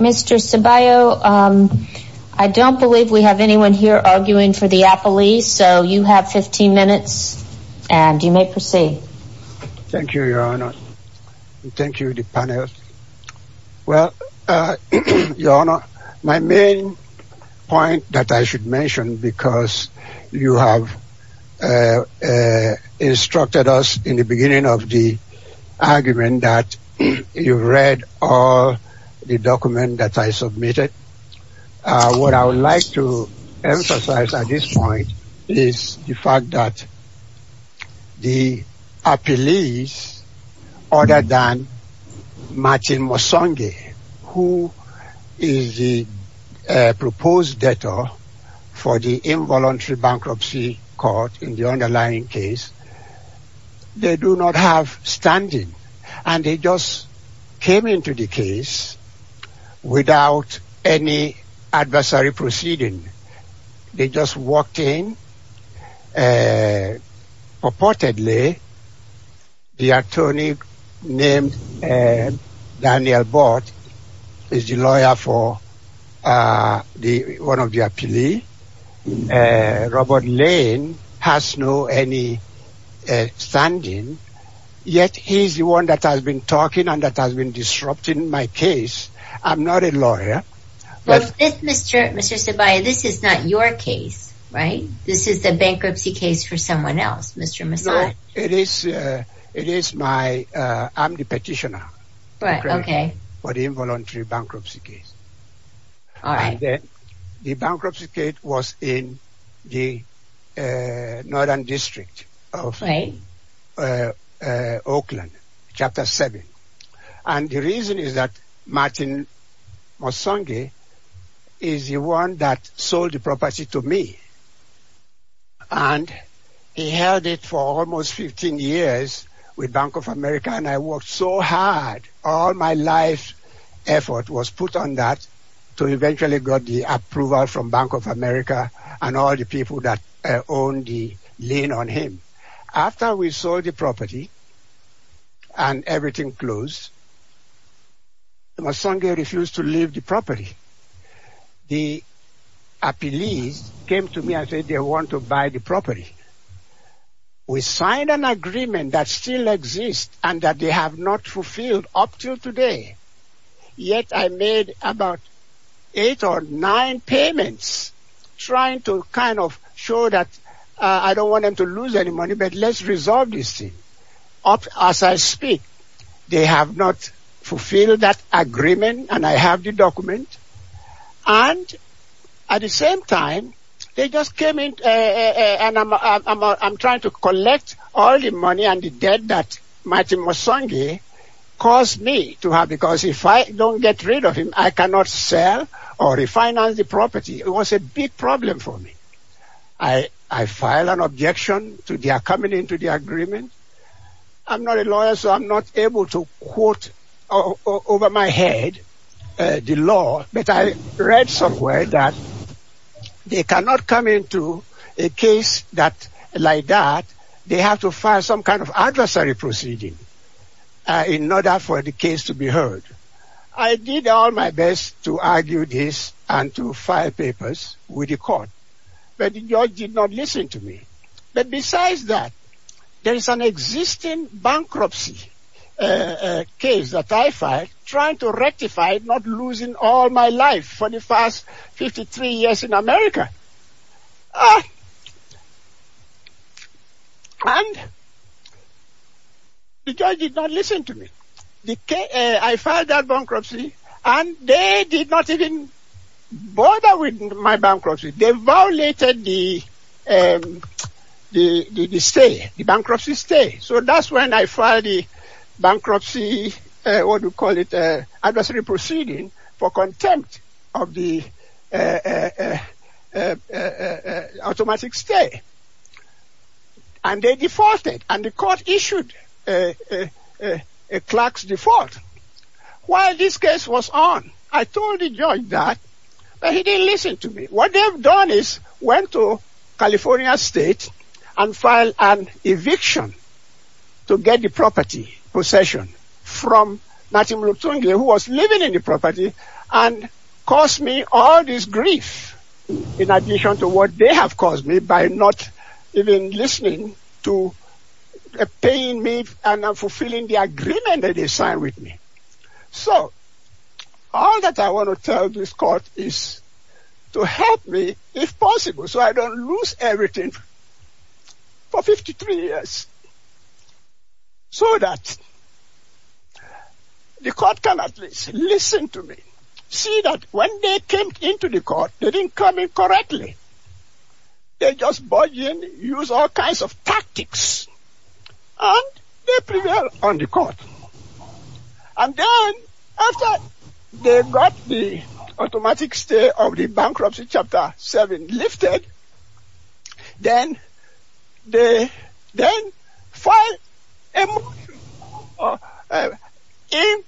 Mr. Sabayoh, I don't believe we have anyone here arguing for the Applees, so you have 15 minutes and you may proceed. Thank you, Your Honor. Thank you, the panel. Well, Your Honor, my main point that I should mention, because you have instructed us in the beginning of the argument that you've read all the documents that I submitted, what I would like to emphasize at this point is the fact that the Applees, other than Martin Musonge, who is the proposed debtor for the involuntary bankruptcy court in the underlying case, they do not have standing. And they just came into the case without any adversary proceeding. They just walked in, purportedly, the attorney named Daniel Bott is the lawyer for one of the Applees, Robert Lane, has no any standing, yet he's the one that has been talking and that has been disrupting my case. I'm not a lawyer. Well, is this, Mr. Sabayoh, this is not your case, right? This is the bankruptcy case for someone else, Mr. Musonge. No, it is my, I'm the petitioner for the involuntary bankruptcy case. The bankruptcy case was in the Northern District of Oakland, Chapter 7. And the reason is that Martin Musonge is the one that sold the property to me. And he held it for almost 15 years with Bank of America and I worked so hard, all my life effort was put on that to eventually got the approval from Bank of America and all the people that owned the land on him. After we sold the property and everything closed, Musonge refused to leave the property. The Applees came to me and said they want to buy the property. We signed an agreement that still exists and that they have not fulfilled up to today. Yet I made about eight or nine payments trying to kind of show that I don't want them to lose any money, but let's resolve this thing up as I speak. They have not fulfilled that agreement and I have the document and at the same time, they just came in and I'm trying to collect all the money and the debt that Martin Musonge caused me to have because if I don't get rid of him, I cannot sell or refinance the property. It was a big problem for me. I filed an objection to their coming into the agreement. I'm not a lawyer so I'm not able to quote over my head the law, but I read somewhere that they cannot come into a case like that. They have to file some kind of adversary proceeding in order for the case to be heard. I did all my best to argue this and to file papers with the court, but the judge did not listen to me. But besides that, there is an existing bankruptcy case that I filed trying to rectify not losing all my life for the first 53 years in America. And the judge did not listen to me. I filed that bankruptcy and they did not even bother with my bankruptcy. They violated the bankruptcy stay. So that's when I filed the bankruptcy, what do you call it, adversary proceeding for contempt of the automatic stay. And they defaulted and the court issued a clerk's default while this case was on. I told the judge that, but he didn't listen to me. What they've done is went to California State and filed an eviction to get the property possession from Natum Rutungi who was living in the property and cost me all this grief in addition to what they have caused me by not even listening to paying me and not fulfilling the agreement that they signed with me. So all that I want to tell this court is to help me if possible so I don't lose everything for 53 years so that the court can at least listen to me. See that when they came into the court, they didn't come in correctly. They just budge in, use all kinds of tactics and they prevail on the court. And then after they got the automatic stay of the bankruptcy chapter 7 lifted, then they then filed a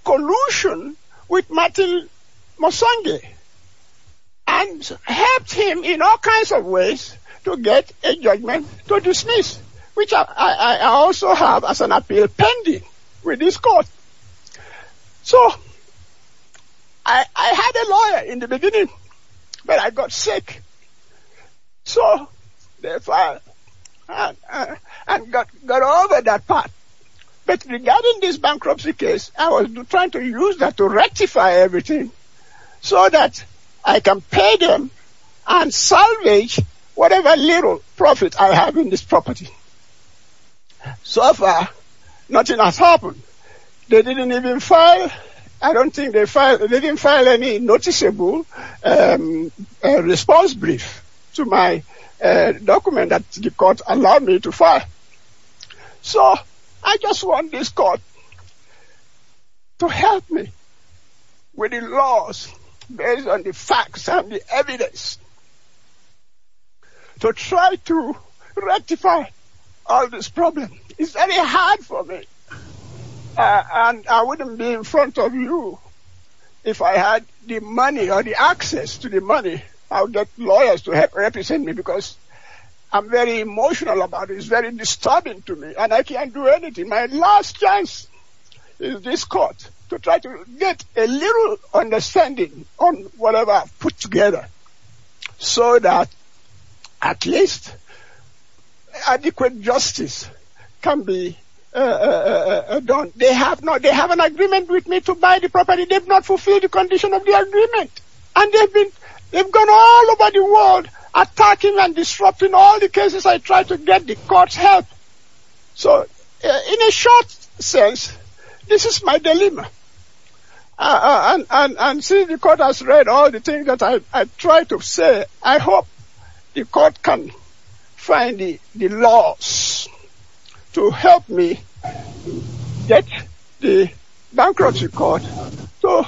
collusion with Martin Musongi and helped him in all kinds of ways to get a judgment to dismiss which I also have as an appeal pending with this court. So I had a lawyer in the beginning but I got sick so therefore I got over that part. But regarding this bankruptcy case, I was trying to use that to rectify everything so that I can pay them and salvage whatever little profit I have in this property. So far nothing has happened. They didn't even file, I don't think they filed, they didn't file any noticeable response brief to my document that the court allowed me to file. So I just want this court to help me with the laws based on the facts and the evidence to try to rectify all this problem. It's very hard for me and I wouldn't be in front of you if I had the money or the access to the money, I would get lawyers to represent me because I'm very emotional about it, it's very disturbing to me and I can't do anything. My last chance is this court to try to get a little understanding on whatever I've put together so that at least adequate justice can be done. They have an agreement with me to buy the property, they've not fulfilled the condition of the agreement and they've gone all over the world attacking and disrupting all the cases I've tried to get the court's help. So in a short sense, this is my dilemma and since the court has read all the things that I've tried to say, I hope the court can find the laws to help me get the bankruptcy court to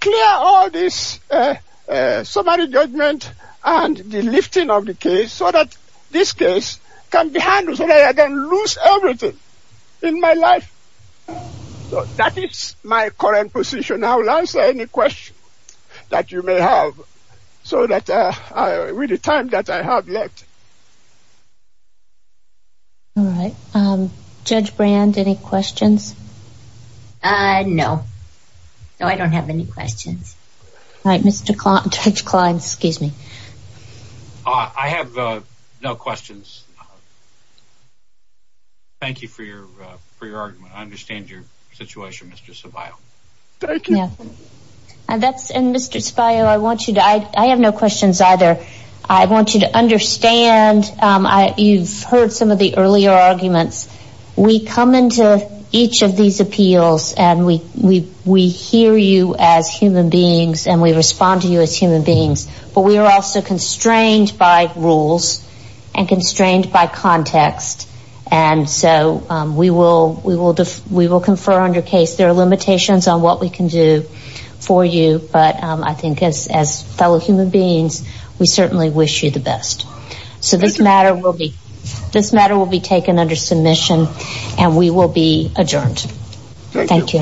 clear all this summary judgment and the lifting of the case so that this case can be handled so that I don't lose everything in my life. That is my current position, I will answer any questions that you may have so that with the time that I have left. Judge Brand, any questions? No, I don't have any questions. Judge Klein, excuse me. I have no questions. Thank you for your argument, I understand your situation Mr. Ceballo. Thank you. Mr. Ceballo, I have no questions either. I want you to understand, you've heard some of the earlier arguments, we come into each of these appeals and we hear you as human beings and we respond to you as human beings, but we are also constrained by rules and constrained by context and so we will confer on your case. There are limitations on what we can do for you, but I think as fellow human beings, we certainly wish you the best. So this matter will be taken under submission and we will be adjourned. Thank you.